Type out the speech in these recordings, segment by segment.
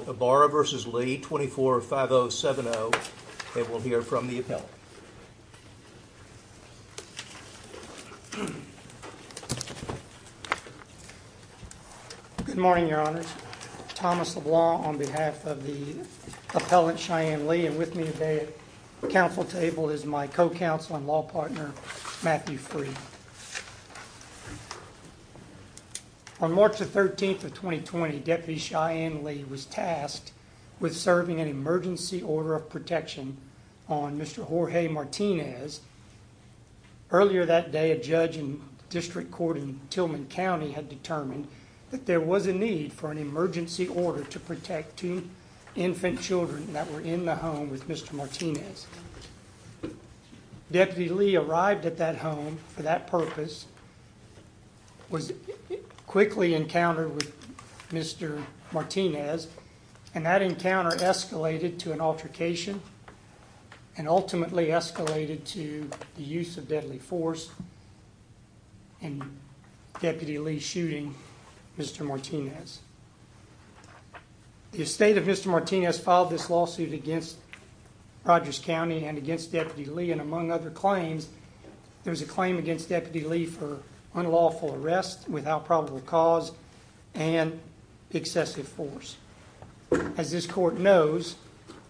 24-5-0-7-0 and we'll hear from the appellant. Good morning, your honors. Thomas LeBlanc on behalf of the appellant Cheyenne Lee and with me today at the council table is my co-counsel and law partner Matthew Freed. On March the 13th of 2020, Deputy Cheyenne Lee was tasked with serving an emergency order of protection on Mr. Jorge Martinez. Earlier that day a judge in District Court in Tillman County had determined that there was a need for an emergency order to protect two infant children that were in the home with Mr. Martinez. Deputy Lee arrived at that home for that purpose, was quickly encountered with Mr. Martinez and that encounter escalated to an altercation and ultimately escalated to the use of deadly force and Deputy Lee shooting Mr. Martinez. The estate of Mr. Martinez filed this lawsuit against Rogers County and against Deputy Lee and among other claims, there was a claim against Deputy Lee for unlawful arrest without probable cause and excessive force. As this court knows,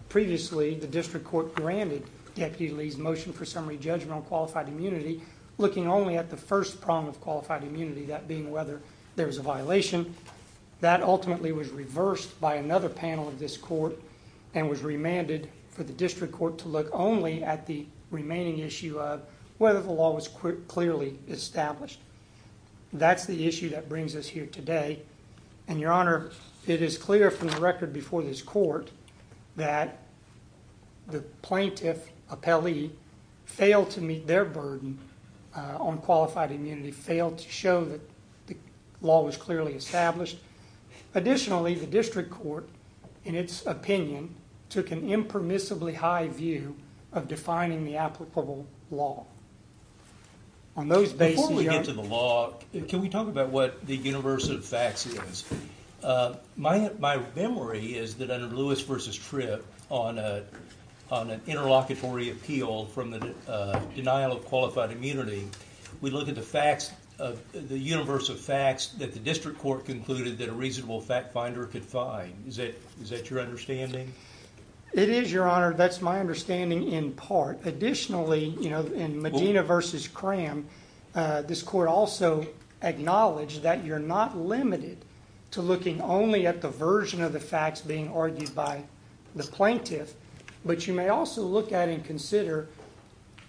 previously the District Court granted Deputy Lee's motion for summary judgment on qualified immunity looking only at the first prong of qualified violation. That ultimately was reversed by another panel of this court and was remanded for the District Court to look only at the remaining issue of whether the law was clearly established. That's the issue that brings us here today and Your Honor, it is clear from the record before this court that the plaintiff appellee failed to meet their burden on qualified immunity, failed to show that the law was clearly established. Additionally, the District Court, in its opinion, took an impermissibly high view of defining the applicable law. On those bases... Before we get to the law, can we talk about what the universe of facts is? My memory is that under Lewis v. Tripp on an interlocutory appeal from the denial of qualified immunity, we look at the universe of facts that the District Court concluded that a reasonable fact finder could find. Is that your understanding? It is, Your Honor. That's my understanding in part. Additionally, in Medina v. Cram, this court also acknowledged that you're not limited to looking only at the version of the facts being argued by the plaintiff, but you may also look at and consider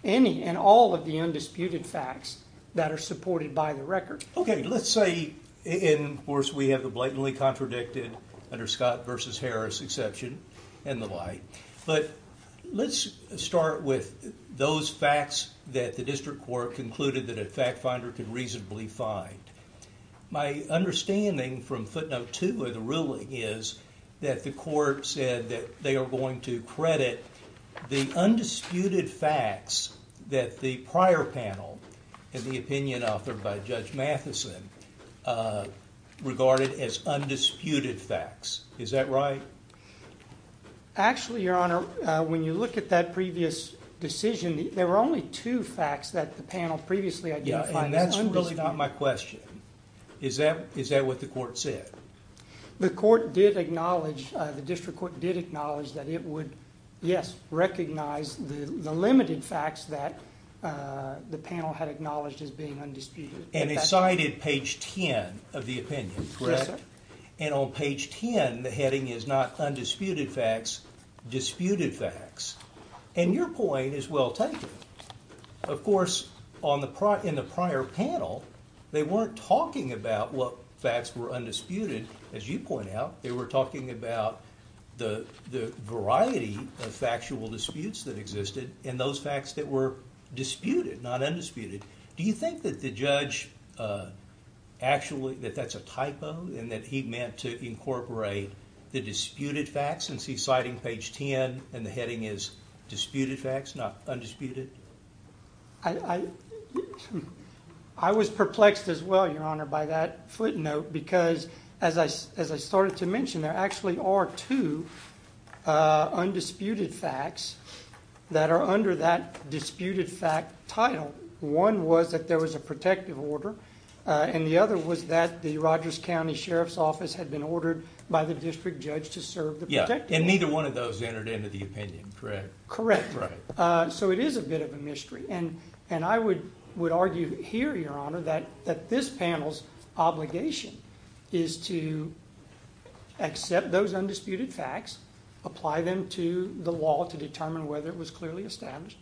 any and all of the undisputed facts that are supported by the record. Okay, let's say, of course, we have the blatantly contradicted under Scott v. Harris exception and the like, but let's start with those facts that the District Court concluded that a fact finder could reasonably find. My understanding from footnote 2 of the that they are going to credit the undisputed facts that the prior panel and the opinion authored by Judge Matheson regarded as undisputed facts. Is that right? Actually, Your Honor, when you look at that previous decision, there were only two facts that the panel previously identified as undisputed. Yeah, and that's really not my question. Is that what the court said? The court did acknowledge, the District Court did acknowledge that it would, yes, recognize the limited facts that the panel had acknowledged as being undisputed. And it cited page 10 of the opinion, correct? Yes, sir. And on page 10, the heading is not undisputed facts, disputed facts. And your point is well taken. Of course, in the prior panel, they weren't talking about what facts were undisputed, as you point out. They were talking about the variety of factual disputes that existed and those facts that were disputed, not undisputed. Do you think that the judge actually, that that's a typo and that he meant to incorporate the disputed facts since he's citing page 10 and the heading is disputed facts, not undisputed? I was perplexed as well, Your Honor, by that footnote because as I started to mention, there actually are two undisputed facts that are under that disputed fact title. One was that there was a protective order and the other was that the Rogers County Sheriff's Office had been ordered by the district judge to serve the protective order. Yeah, and neither one of those entered into the opinion, correct? Correct. So it is a bit of a mystery and I would argue here, Your Honor, that this panel's obligation is to accept those undisputed facts, apply them to the law to determine whether it was clearly established.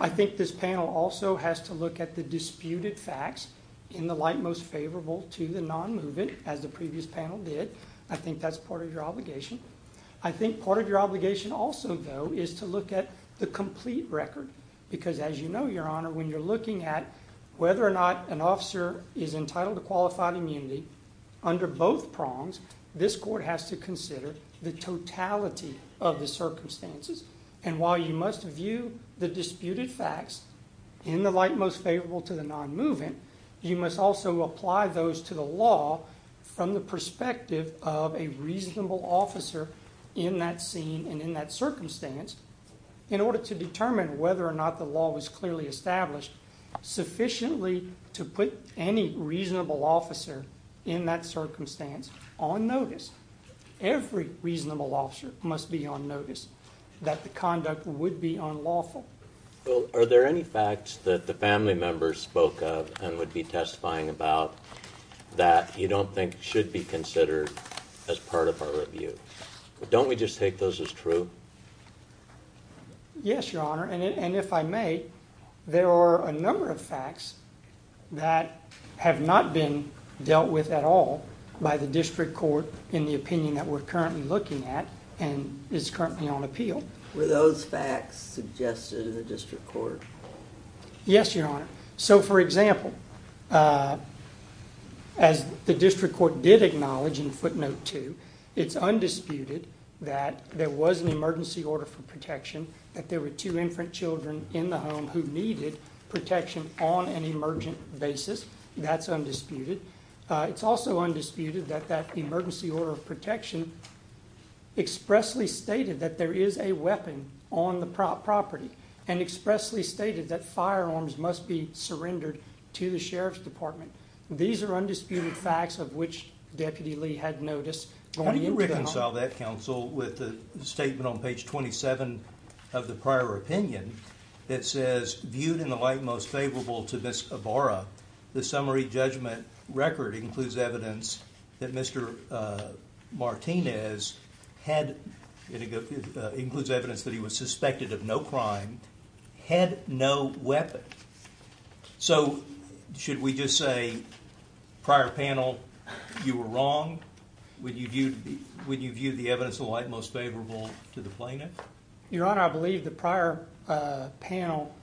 I think this panel also has to look at the disputed facts in the light most favorable to the non-moving, as the previous panel did. I think that's part of your obligation. I think part of your obligation also, though, is to look at the complete record because, as you know, Your Honor, when you're looking at whether or not an officer is entitled to qualified immunity under both prongs, this court has to consider the totality of the circumstances. And while you must view the disputed facts in the light most favorable to the non-moving, you must also apply those to the law from the perspective of a reasonable officer in that scene and in that circumstance in order to determine whether or not the law was clearly established sufficiently to put any reasonable officer in that circumstance on notice. Every reasonable officer must be on notice that the conduct would be unlawful. Well, are there any facts that the family members spoke of and would be testifying about that you don't think should be considered as part of our review? Don't we just take those as true? Yes, Your Honor, and if I may, there are a number of facts that have not been dealt with at all by the district court in the opinion that we're currently looking at and is currently on appeal. Were those facts suggested in the district court? Yes, Your Honor. So, for example, as the district court did acknowledge in footnote 2, it's undisputed that there was an emergency order for protection, that there were two infant children in the home who needed protection on an emergent basis. That's undisputed. It's also undisputed that that emergency order of protection expressly stated that there is a weapon on the property and expressly stated that firearms must be surrendered to the Sheriff's Department. These are undisputed facts of which Deputy Lee had notice. How do you reconcile that, counsel, with the statement on page 27 of the prior opinion that says, viewed in the light most favorable to Ms. Ibarra, the summary judgment record includes evidence that Mr. Martinez had, it includes evidence that he was suspected of no crime, had no weapon? So, should we just say, prior panel, you were wrong? Would you view the evidence in the light most favorable to the plaintiff? Your Honor, I believe the prior panel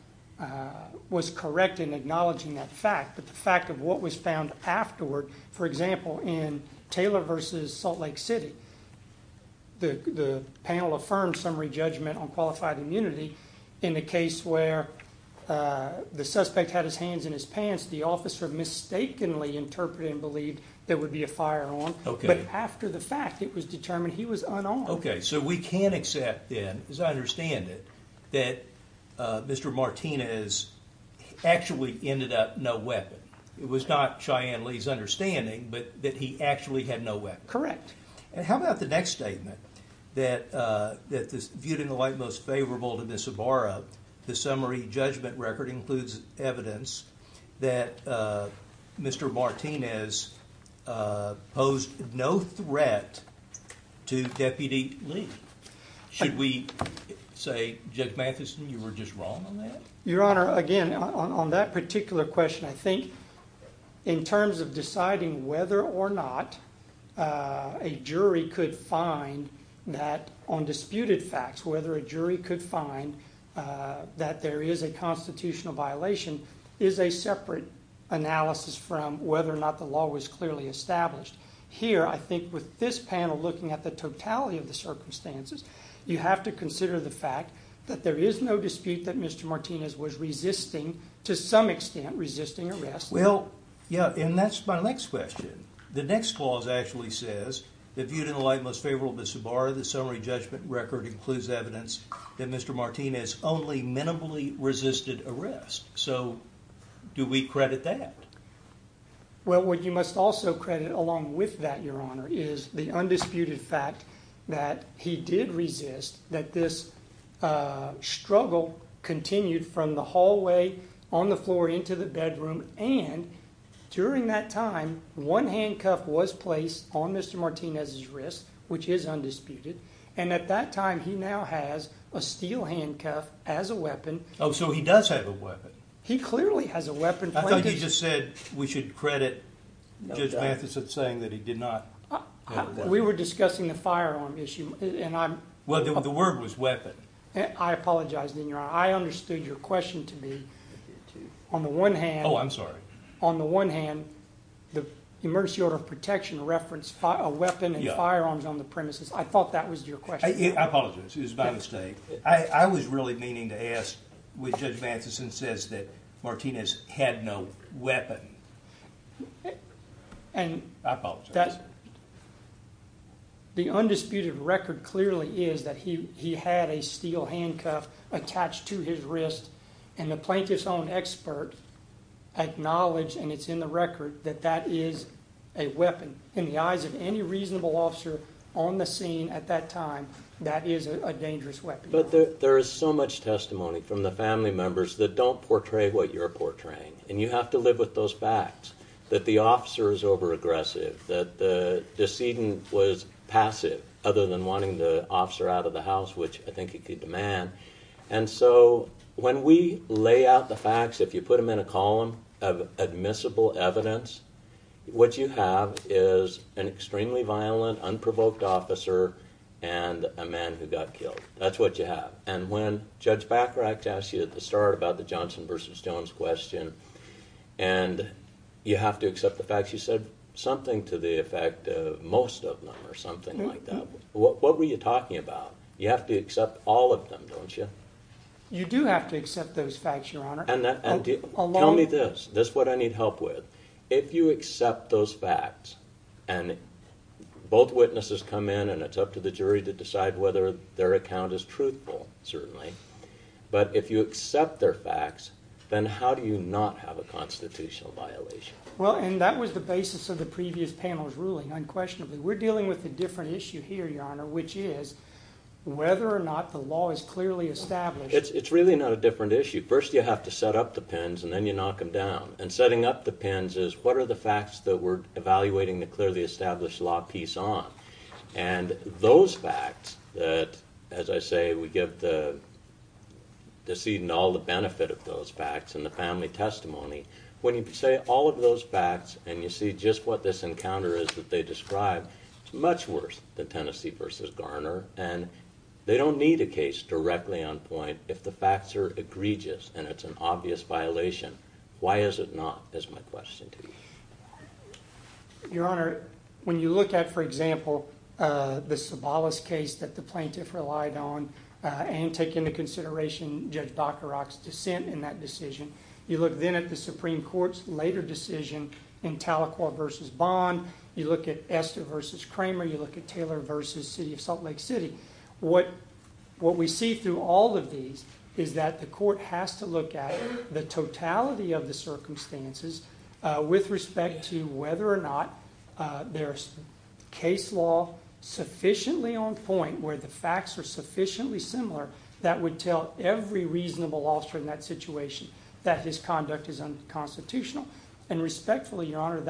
was correct in acknowledging that fact, but the fact of what was found afterward, for example, in Taylor versus Salt Lake City, the panel affirmed summary judgment on qualified immunity. In the case where the suspect had his hands in his pants, the officer mistakenly interpreted and believed there would be a firearm, but after the fact, it was determined he was unarmed. Okay, so we can accept then, as I understand it, that Mr. Martinez actually ended up no weapon. It was not Cheyenne Lee's understanding, but that he actually had no weapon. Correct. And how about the next statement, that viewed in the light most favorable to Ms. Ibarra, the summary judgment record includes evidence that Mr. Martinez posed no threat to Deputy Lee. Should we say, Judge Matheson, you were just wrong on that? Your Honor, again, on that particular question, I think in terms of deciding whether or not a jury could find that on disputed facts, whether a jury could find that there is a constitutional violation, is a separate analysis from whether or not the law was clearly established. Here, I think with this panel looking at the totality of the circumstances, you have to consider the fact that there is no dispute that Mr. Martinez is resisting arrest. Well, yeah, and that's my next question. The next clause actually says, that viewed in the light most favorable to Ms. Ibarra, the summary judgment record includes evidence that Mr. Martinez only minimally resisted arrest. So, do we credit that? Well, what you must also credit along with that, Your Honor, is the undisputed fact that he did resist, that this struggle continued from the hallway, on the floor, into the bedroom, and during that time, one handcuff was placed on Mr. Martinez's wrist, which is undisputed, and at that time, he now has a steel handcuff as a weapon. Oh, so he does have a weapon? He clearly has a weapon. I thought you just said we should credit Judge Matheson saying that he did not. We were discussing the firearm issue. Well, the word was weapon. I apologize, then, Your Honor. I understood your question to be, on the one hand, Oh, I'm sorry. On the one hand, the emergency order of protection referenced a weapon and firearms on the premises. I thought that was your question. I apologize. It was my mistake. I was really meaning to ask, which Judge Matheson says that Martinez had no weapon. I apologize. The undisputed record clearly is that he had a steel handcuff attached to his wrist, and the plaintiff's own expert acknowledged, and it's in the record, that that is a weapon. In the eyes of any reasonable officer on the scene at that time, that is a dangerous weapon. But there is so much testimony from the family members that don't portray what you're portraying, and you have to live with those facts, that the officer is overaggressive, that the decedent was passive, other than wanting the officer out of the house, which I think he could demand. And so, when we lay out the facts, if you put them in a column of admissible evidence, what you have is an extremely violent, unprovoked officer, and a man who got killed. That's what you have. And when Judge Bacharach asked you at the start about the Johnson versus Jones question, and you have to accept the facts, you said something to the effect, most of them, or something like that. What were you talking about? You have to accept all of them, don't you? You do have to accept those facts, Your Honor. Tell me this, this is what I need help with. If you accept those facts, and both witnesses come in, and it's up to the jury to decide whether their account is truthful, certainly, but if you accept their facts, then how do you not have a constitutional violation? Well, and that was the basis of the previous panel's ruling, unquestionably. We're dealing with a different issue here, Your Honor, which is whether or not the law is clearly established. It's really not a different issue. First, you have to set up the pins, and then you knock them down. And setting up the pins is, what are the facts that we're evaluating the clearly established law piece on? And those facts, that, as I say, we give the seed and all the benefit of those facts, and the family testimony, when you say all of those facts, and you see just what this encounter is that they described, it's much worse than Tennessee v. Garner, and they don't need a case directly on point if the facts are egregious, and it's an obvious violation. Why is it not, is my question to you. Your Honor, when you look at, for example, the Sobolus case that the plaintiff relied on, and take into consideration Judge Docorock's dissent in that decision, you look then at the Supreme Court's later decision in Talaquah v. Bond, you look at Esther v. Kramer, you look at Taylor v. City of Salt Lake City, what we see through all of these is that the court has to look at the totality of the circumstances with respect to whether or not there's case law sufficiently on point where the facts are sufficiently similar that would tell every reasonable officer in that situation that his conduct is unconstitutional, and respectfully, Your Honor,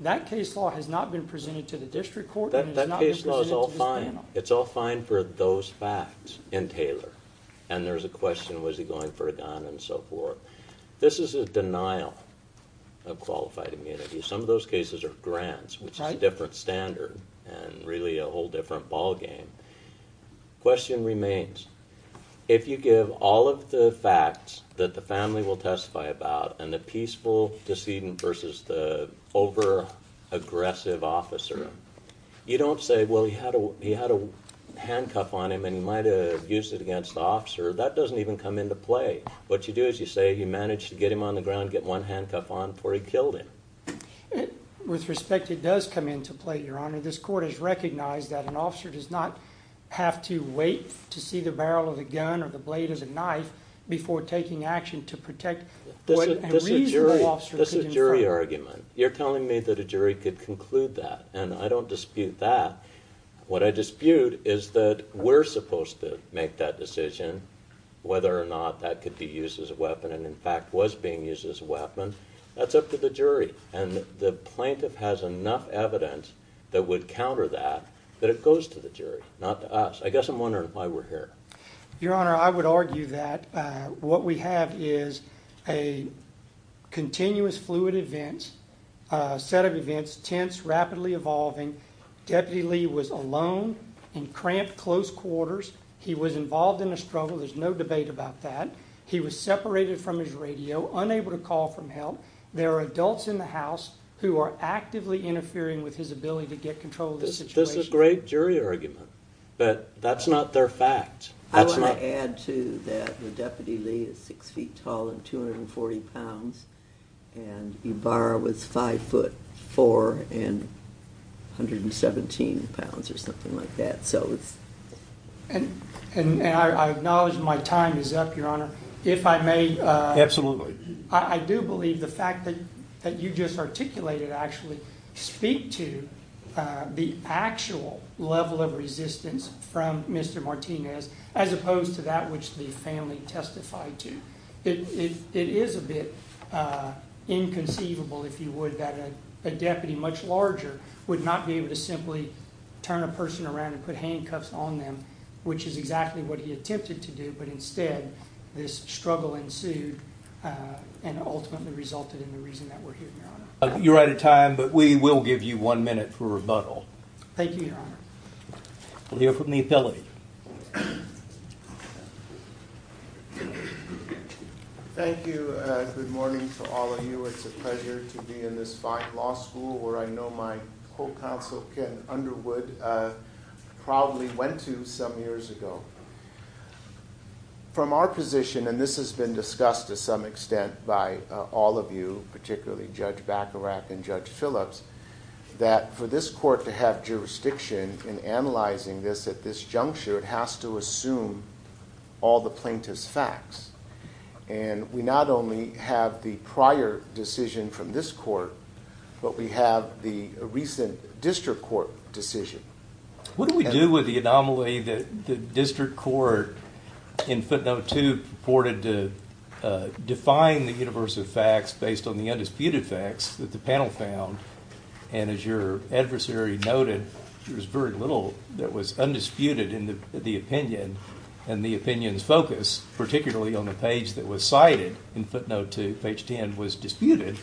that case law has not been presented to the district court. That case law is all fine. It's all fine for those facts in Taylor, and there's a question, was he going for a gun, and so forth. This is a denial of qualified immunity. Some of those cases are grants, which is a different standard, and really a whole different ballgame. Question remains. If you give all of the facts that the family will testify about, and the peaceful decedent versus the over-aggressive officer, you don't say, well, he had a handcuff on him, and he might have used it against the officer. That doesn't even come into play. What you do is you say you managed to get him on the ground, get one handcuff on before he killed him. With respect, it does come into play, Your Honor. This court has recognized that an officer does not have to wait to see the barrel of a gun, or the blade is a knife, before taking action to protect what a reasonable officer could infer. This is a jury argument. You're telling me that a jury could conclude that, and I don't dispute that. What I dispute is that we're supposed to make that decision, whether or not that could be used as a weapon, and in fact was being used as a weapon. That's up to the jury, and the plaintiff has enough evidence that would counter that, that it goes to the jury, not to us. I guess I'm wondering why we're here. Your Honor, I would argue that what we have is a continuous fluid event, a set of events, tense, rapidly evolving. Deputy Lee was alone in cramped close quarters. He was involved in a struggle. There's no debate about that. He was separated from his radio, unable to call for help. There are adults in the house who are actively interfering with his ability to get control of the situation. That's a great jury argument, but that's not their fact. I want to add to that that Deputy Lee is 6 feet tall and 240 pounds, and Ibarra was 5 foot 4 and 117 pounds, or something like that, so it's... And I acknowledge my time is up, Your Honor. If I may, I do believe the fact that you just articulated actually speak to the actual level of resistance from Mr. Martinez, as opposed to that which the family testified to. It is a bit inconceivable, if you would, that a deputy much larger would not be able to simply turn a person around and put handcuffs on them, which is exactly what he attempted to do, but instead this struggle ensued and ultimately resulted in the reason that we're here, Your Honor. You're out of time, but we will give you one minute for rebuttal. Thank you, Your Honor. We'll hear from the appellate. Thank you. Good morning to all of you. It's a pleasure to be in this fine law school, where I know my co-counsel Ken Underwood probably went to some years ago. From our position, and this has been discussed to some extent by all of you, particularly Judge Bacarach and Judge Phillips, that for this court to have jurisdiction in analyzing this at this juncture, it has to assume all the plaintiff's facts. And we not only have the prior decision from this court, but we have the recent district court decision. What do we do with the anomaly that the district court in footnote 2 purported to define the universe of facts based on the undisputed facts that the panel found? And as your adversary noted, there was very little that was undisputed in the opinion, and the opinion's focus, particularly on the page that was cited in footnote 2, page 10, was disputed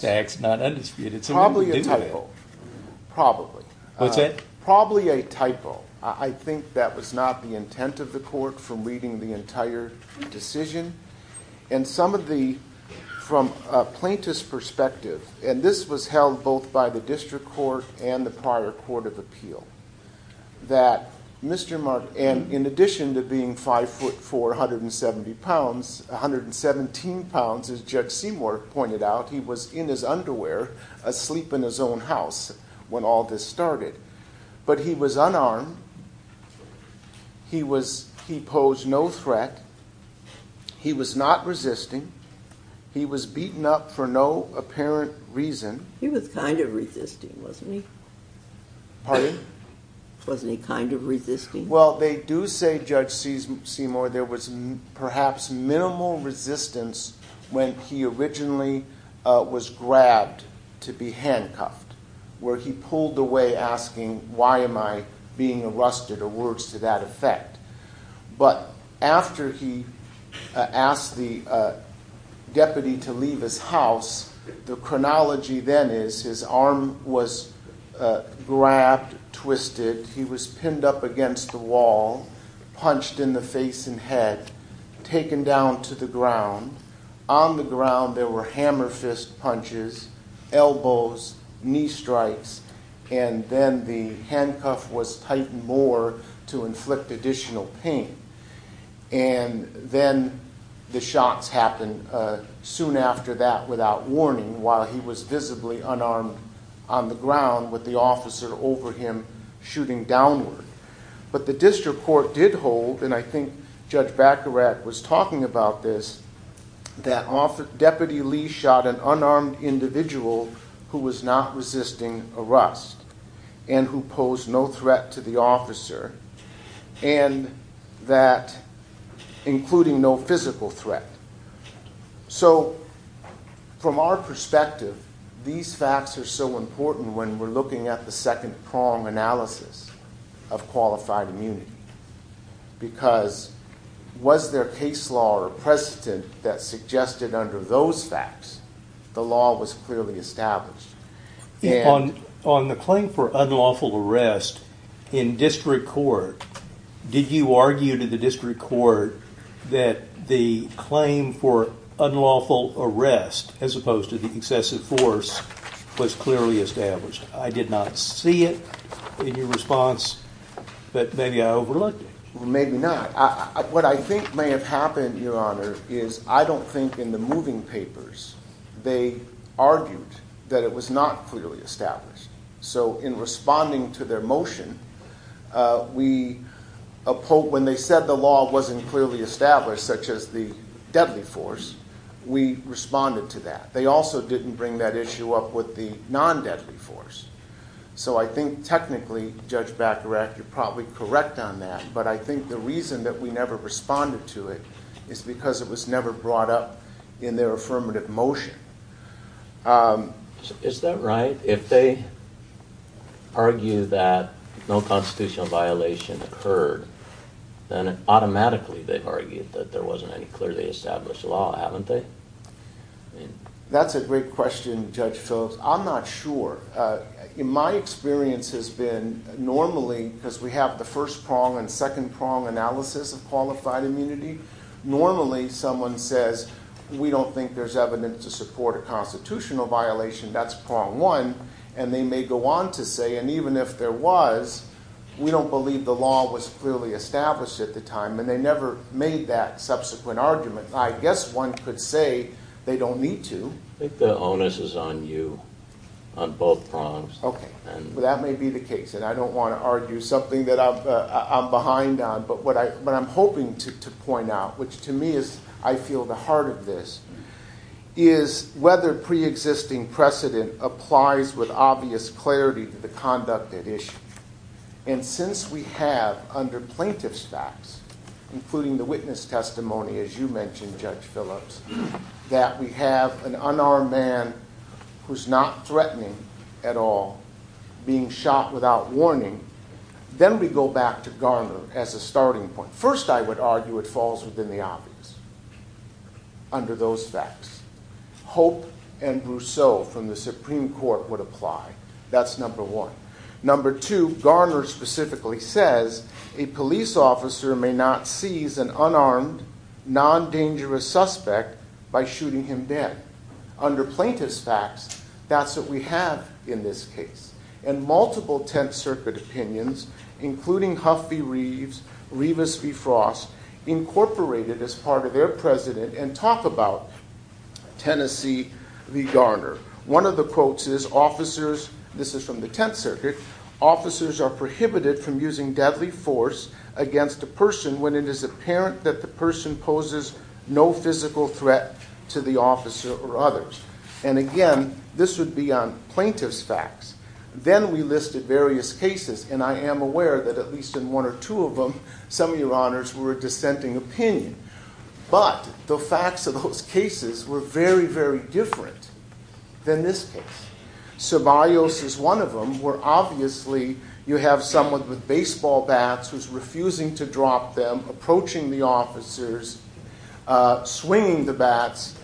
facts, not undisputed. Probably a typo. Probably. What's that? Probably a typo. I think that was not the intent of the court from reading the entire decision. And some of the, from a plaintiff's perspective, and this was held both by the district court and the prior court of appeal, that Mr. Mark, and in addition to being 5'4", 170 pounds, 117 pounds, as Judge Seymour pointed out, he was in his underwear asleep in his own house when all this started. But he was unarmed. He posed no threat. He was not resisting. He was beaten up for no apparent reason. He was kind of resisting, wasn't he? Pardon? Wasn't he kind of resisting? Well, they do say, Judge Seymour, there was perhaps minimal resistance when he originally was grabbed to be handcuffed, where he pulled away asking, why am I being arrested, or words to that effect. But after he asked the deputy to leave his house, the chronology then is his arm was grabbed, twisted, he was pinned up against the wall, punched in the face and head, taken down to the ground. On the ground there were hammer fist punches, elbows, knee strikes, and then the handcuff was tightened more to inflict additional pain. And then the shots happened soon after that without warning while he was visibly unarmed on the ground with the officer over him shooting downward. But the district court did hold, and I think Judge Baccarat was talking about this, that Deputy Lee shot an unarmed individual who was not resisting arrest and who posed no threat to the officer, including no physical threat. So from our perspective, these facts are so important when we're looking at the second prong analysis of qualified immunity. Because was there case law or precedent that suggested under those facts the law was clearly established? On the claim for unlawful arrest in district court, did you argue to the district court that the claim for unlawful arrest as opposed to the excessive force was clearly established? I did not see it in your response, but maybe I overlooked it. What I think may have happened, Your Honor, is I don't think in the moving papers they argued that it was not clearly established. So in responding to their motion, when they said the law wasn't clearly established, such as the deadly force, we responded to that. They also didn't bring that issue up with the non-deadly force. So I think technically, Judge Baccarat, you're probably correct on that, but I think the reason that we never responded to it is because it was never brought up in their affirmative motion. Is that right? If they argue that no constitutional violation occurred, then automatically they've argued that there wasn't any clearly established law, haven't they? That's a great question, Judge Phillips. I'm not sure. My experience has been normally, because we have the first prong and second prong analysis of qualified immunity, normally someone says, we don't think there's evidence to support a constitutional violation. That's prong one, and they may go on to say, and even if there was, we don't believe the law was clearly established at the time, and they never made that subsequent argument. I guess one could say they don't need to. I think the onus is on you, on both prongs. Okay. That may be the case, and I don't want to argue something that I'm behind on, but what I'm hoping to point out, which to me is, I feel, the heart of this, is whether preexisting precedent applies with obvious clarity to the conduct at issue. And since we have, under plaintiff's facts, including the witness testimony, as you mentioned, Judge Phillips, that we have an unarmed man who's not threatening at all, being shot without warning, then we go back to Garner as a starting point. First, I would argue it falls within the obvious, under those facts. Hope and Brousseau from the Supreme Court would apply. That's number one. Number two, Garner specifically says, a police officer may not seize an unarmed, non-dangerous suspect by shooting him dead. Under plaintiff's facts, that's what we have in this case. And multiple Tenth Circuit opinions, including Huff v. Reeves, Rivas v. Frost, incorporated as part of their precedent and talk about Tennessee v. Garner. One of the quotes is, officers, this is from the Tenth Circuit, officers are prohibited from using deadly force against a person when it is apparent that the person poses no physical threat to the officer or others. And again, this would be on plaintiff's facts. Then we listed various cases, and I am aware that at least in one or two of them, some of your honors were dissenting opinion. But the facts of those cases were very, very different than this case. Ceballos is one of them, where obviously you have someone with baseball bats who's refusing to drop them, approaching the officers, swinging the bats.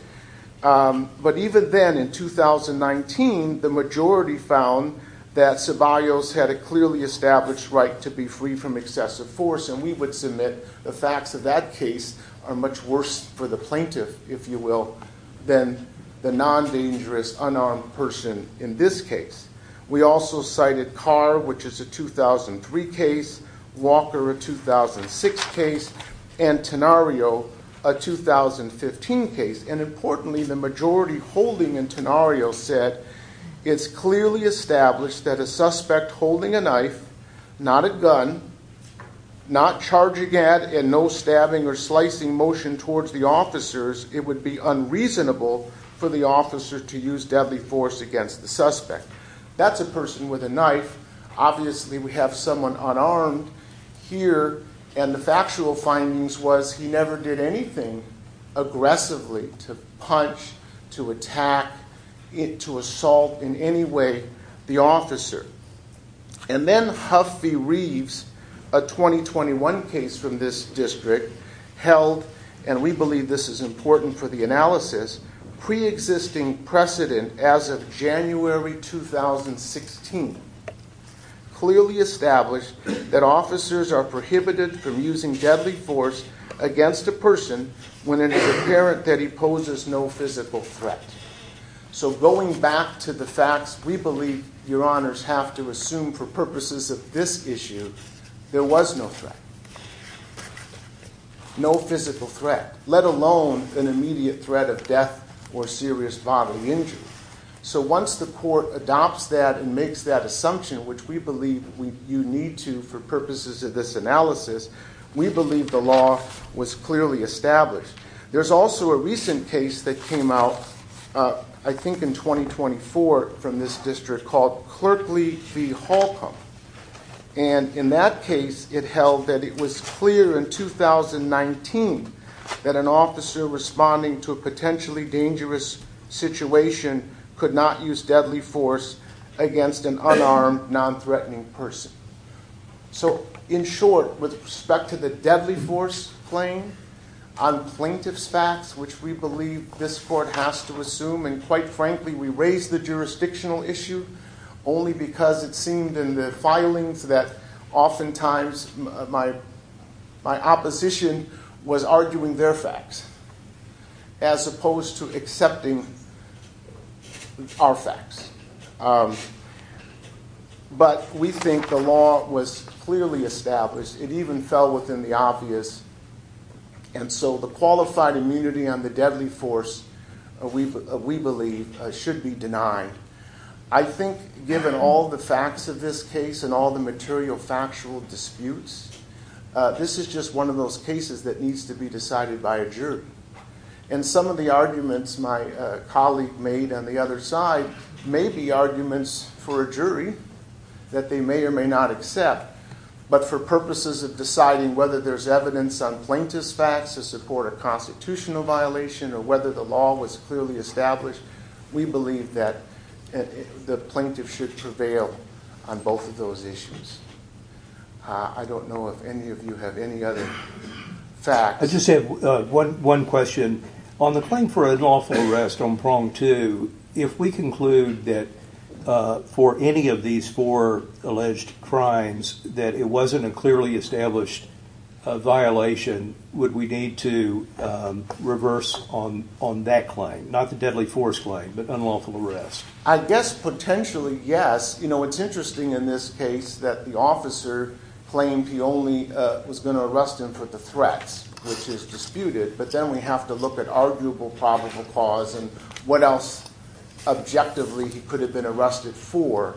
But even then, in 2019, the majority found that Ceballos had a clearly established right to be free from excessive force. And we would submit the facts of that case are much worse for the plaintiff, if you will, than the non-dangerous unarmed person in this case. We also cited Carr, which is a 2003 case, Walker, a 2006 case, and Tenario, a 2015 case. And importantly, the majority holding in Tenario said, it's clearly established that a suspect holding a knife, not a gun, not charging at, and no stabbing or slicing motion towards the officers, it would be unreasonable for the officer to use deadly force against the suspect. That's a person with a knife. Obviously, we have someone unarmed here, and the factual findings was he never did anything aggressively to punch, to attack, to assault in any way the officer. And then Huffey Reeves, a 2021 case from this district, held, and we believe this is important for the analysis, pre-existing precedent as of January 2016, clearly established that officers are prohibited from using deadly force against a person when it is apparent that he poses no physical threat. So going back to the facts, we believe Your Honors have to assume for purposes of this issue, there was no threat, no physical threat, let alone an immediate threat of death or serious bodily injury. So once the court adopts that and makes that assumption, which we believe you need to for purposes of this analysis, we believe the law was clearly established. There's also a recent case that came out, I think in 2024, from this district called Clerkley v. Holcomb. And in that case, it held that it was clear in 2019 that an officer responding to a potentially dangerous situation could not use deadly force against an unarmed, non-threatening person. So in short, with respect to the deadly force claim on plaintiff's facts, which we believe this court has to assume, and quite frankly, we raise the jurisdictional issue only because it seemed in the filings that oftentimes my opposition was arguing their facts as opposed to accepting our facts. But we think the law was clearly established. It even fell within the obvious. And so the qualified immunity on the deadly force, we believe, should be denied. I think given all the facts of this case and all the material factual disputes, this is just one of those cases that needs to be decided by a jury. And some of the arguments my colleague made on the other side may be arguments for a jury that they may or may not accept. But for purposes of deciding whether there's evidence on plaintiff's facts to support a constitutional violation or whether the law was clearly established, we believe that the plaintiff should prevail on both of those issues. I don't know if any of you have any other facts. I just have one question. On the claim for unlawful arrest on prong two, if we conclude that for any of these four alleged crimes that it wasn't a clearly established violation, would we need to reverse on that claim? Not the deadly force claim, but unlawful arrest. I guess potentially, yes. It's interesting in this case that the officer claimed he only was going to arrest him for the threats, which is disputed. But then we have to look at arguable probable cause and what else objectively he could have been arrested for.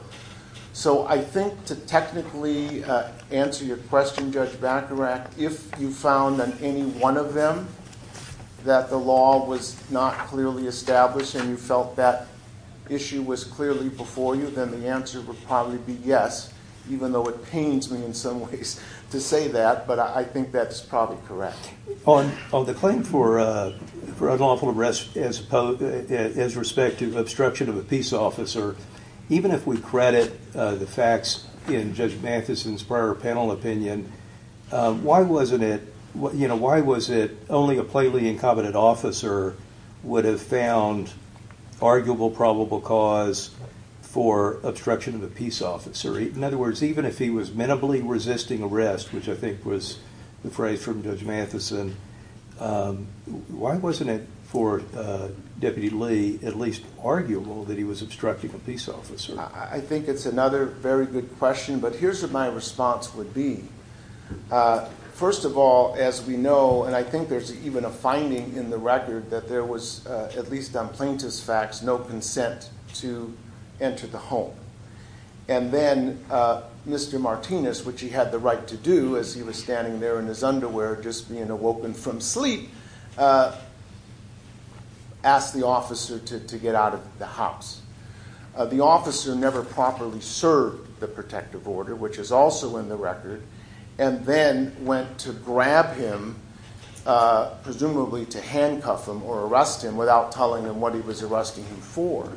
So I think to technically answer your question, Judge Bacharach, if you found on any one of them that the law was not clearly established and you felt that issue was clearly before you, then the answer would probably be yes, even though it pains me in some ways to say that. But I think that's probably correct. On the claim for unlawful arrest as respect to obstruction of a peace officer, even if we credit the facts in Judge Mathison's prior panel opinion, why was it only a plainly incompetent officer would have found arguable probable cause for obstruction of a peace officer? In other words, even if he was minimally resisting arrest, which I think was the phrase from Judge Mathison, why wasn't it for Deputy Lee at least arguable that he was obstructing a peace officer? I think it's another very good question, but here's what my response would be. First of all, as we know, and I think there's even a finding in the record that there was, at least on plaintiff's facts, no consent to enter the home. And then Mr. Martinez, which he had the right to do as he was standing there in his underwear just being awoken from sleep, asked the officer to get out of the house. The officer never properly served the protective order, which is also in the record, and then went to grab him, presumably to handcuff him or arrest him without telling him what he was arresting him for.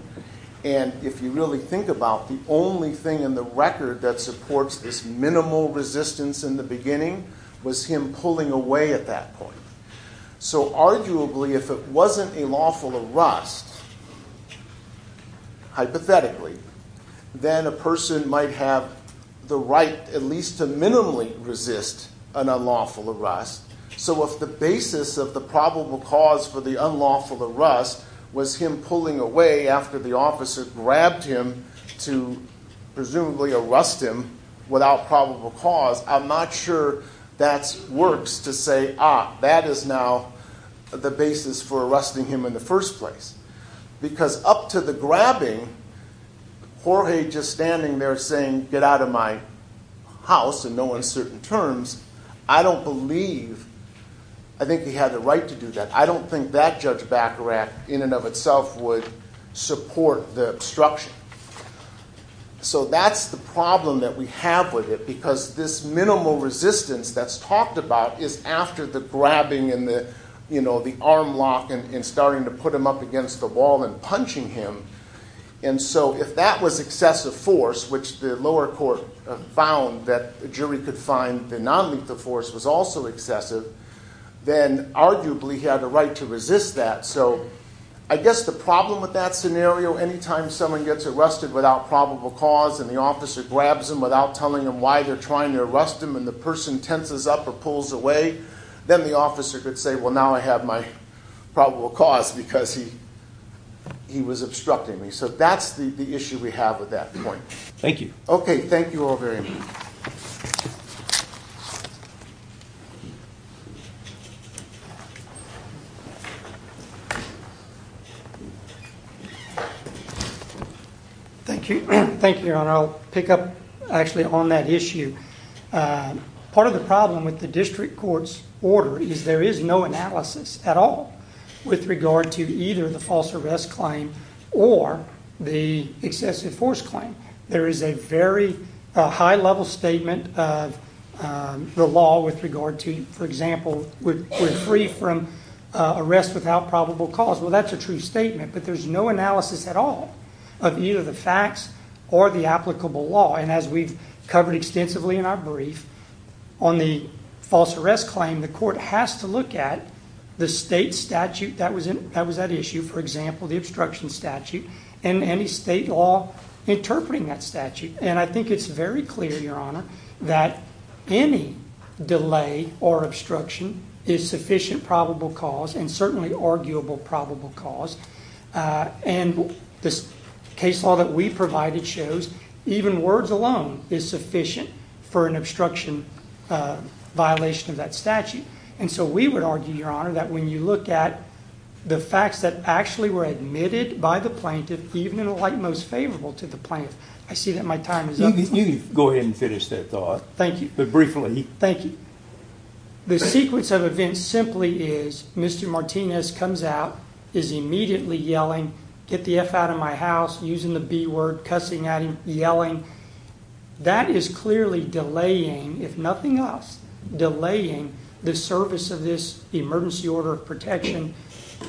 And if you really think about it, the only thing in the record that supports this minimal resistance in the beginning was him pulling away at that point. So arguably, if it wasn't a lawful arrest, hypothetically, then a person might have the right at least to minimally resist an unlawful arrest. So if the basis of the probable cause for the unlawful arrest was him pulling away after the officer grabbed him to presumably arrest him without probable cause, I'm not sure that works to say, ah, that is now the basis for arresting him in the first place. Because up to the grabbing, Jorge just standing there saying, get out of my house in no uncertain terms, I don't believe, I think he had the right to do that. I don't think that Judge Baccarat in and of itself would support the obstruction. So that's the problem that we have with it, because this minimal resistance that's talked about is after the grabbing and the arm lock and starting to put him up against the wall and punching him. And so if that was excessive force, which the lower court found that the jury could find the nonlethal force was also excessive, then arguably he had a right to resist that. So I guess the problem with that scenario, anytime someone gets arrested without probable cause and the officer grabs him without telling him why they're trying to arrest him, and the person tenses up or pulls away, then the officer could say, well, now I have my probable cause because he was obstructing me. So that's the issue we have with that point. Thank you. Okay. Thank you all very much. Thank you. Thank you. I'll pick up actually on that issue. Part of the problem with the district court's order is there is no analysis at all with regard to either the false arrest claim or the excessive force claim. There is a very high-level statement of the law with regard to, for example, we're free from arrest without probable cause. Well, that's a true statement, but there's no analysis at all of either the facts or the applicable law. And as we've covered extensively in our brief, on the false arrest claim, the court has to look at the state statute that was at issue, for example, the obstruction statute and any state law interpreting that statute. And I think it's very clear, Your Honor, that any delay or obstruction is sufficient probable cause and certainly arguable probable cause. And this case law that we provided shows even words alone is sufficient for an obstruction violation of that statute. And so we would argue, Your Honor, that when you look at the facts that actually were admitted by the plaintiff, even in the light most favorable to the plaintiff, I see that my time is up. You can go ahead and finish that thought. Thank you. But briefly. Thank you. The sequence of events simply is Mr. Martinez comes out, is immediately yelling, get the F out of my house, using the B word, cussing at him, yelling. That is clearly delaying, if nothing else, delaying the service of this emergency order of protection.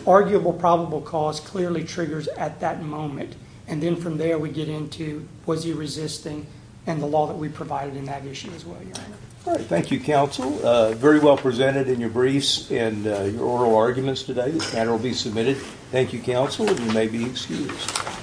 Arguable probable cause clearly triggers at that moment. And then from there we get into was he resisting and the law that we provided in that issue as well, Your Honor. Thank you, Counsel. Very well presented in your briefs and oral arguments today. The matter will be submitted. Thank you, Counsel. You may be excused.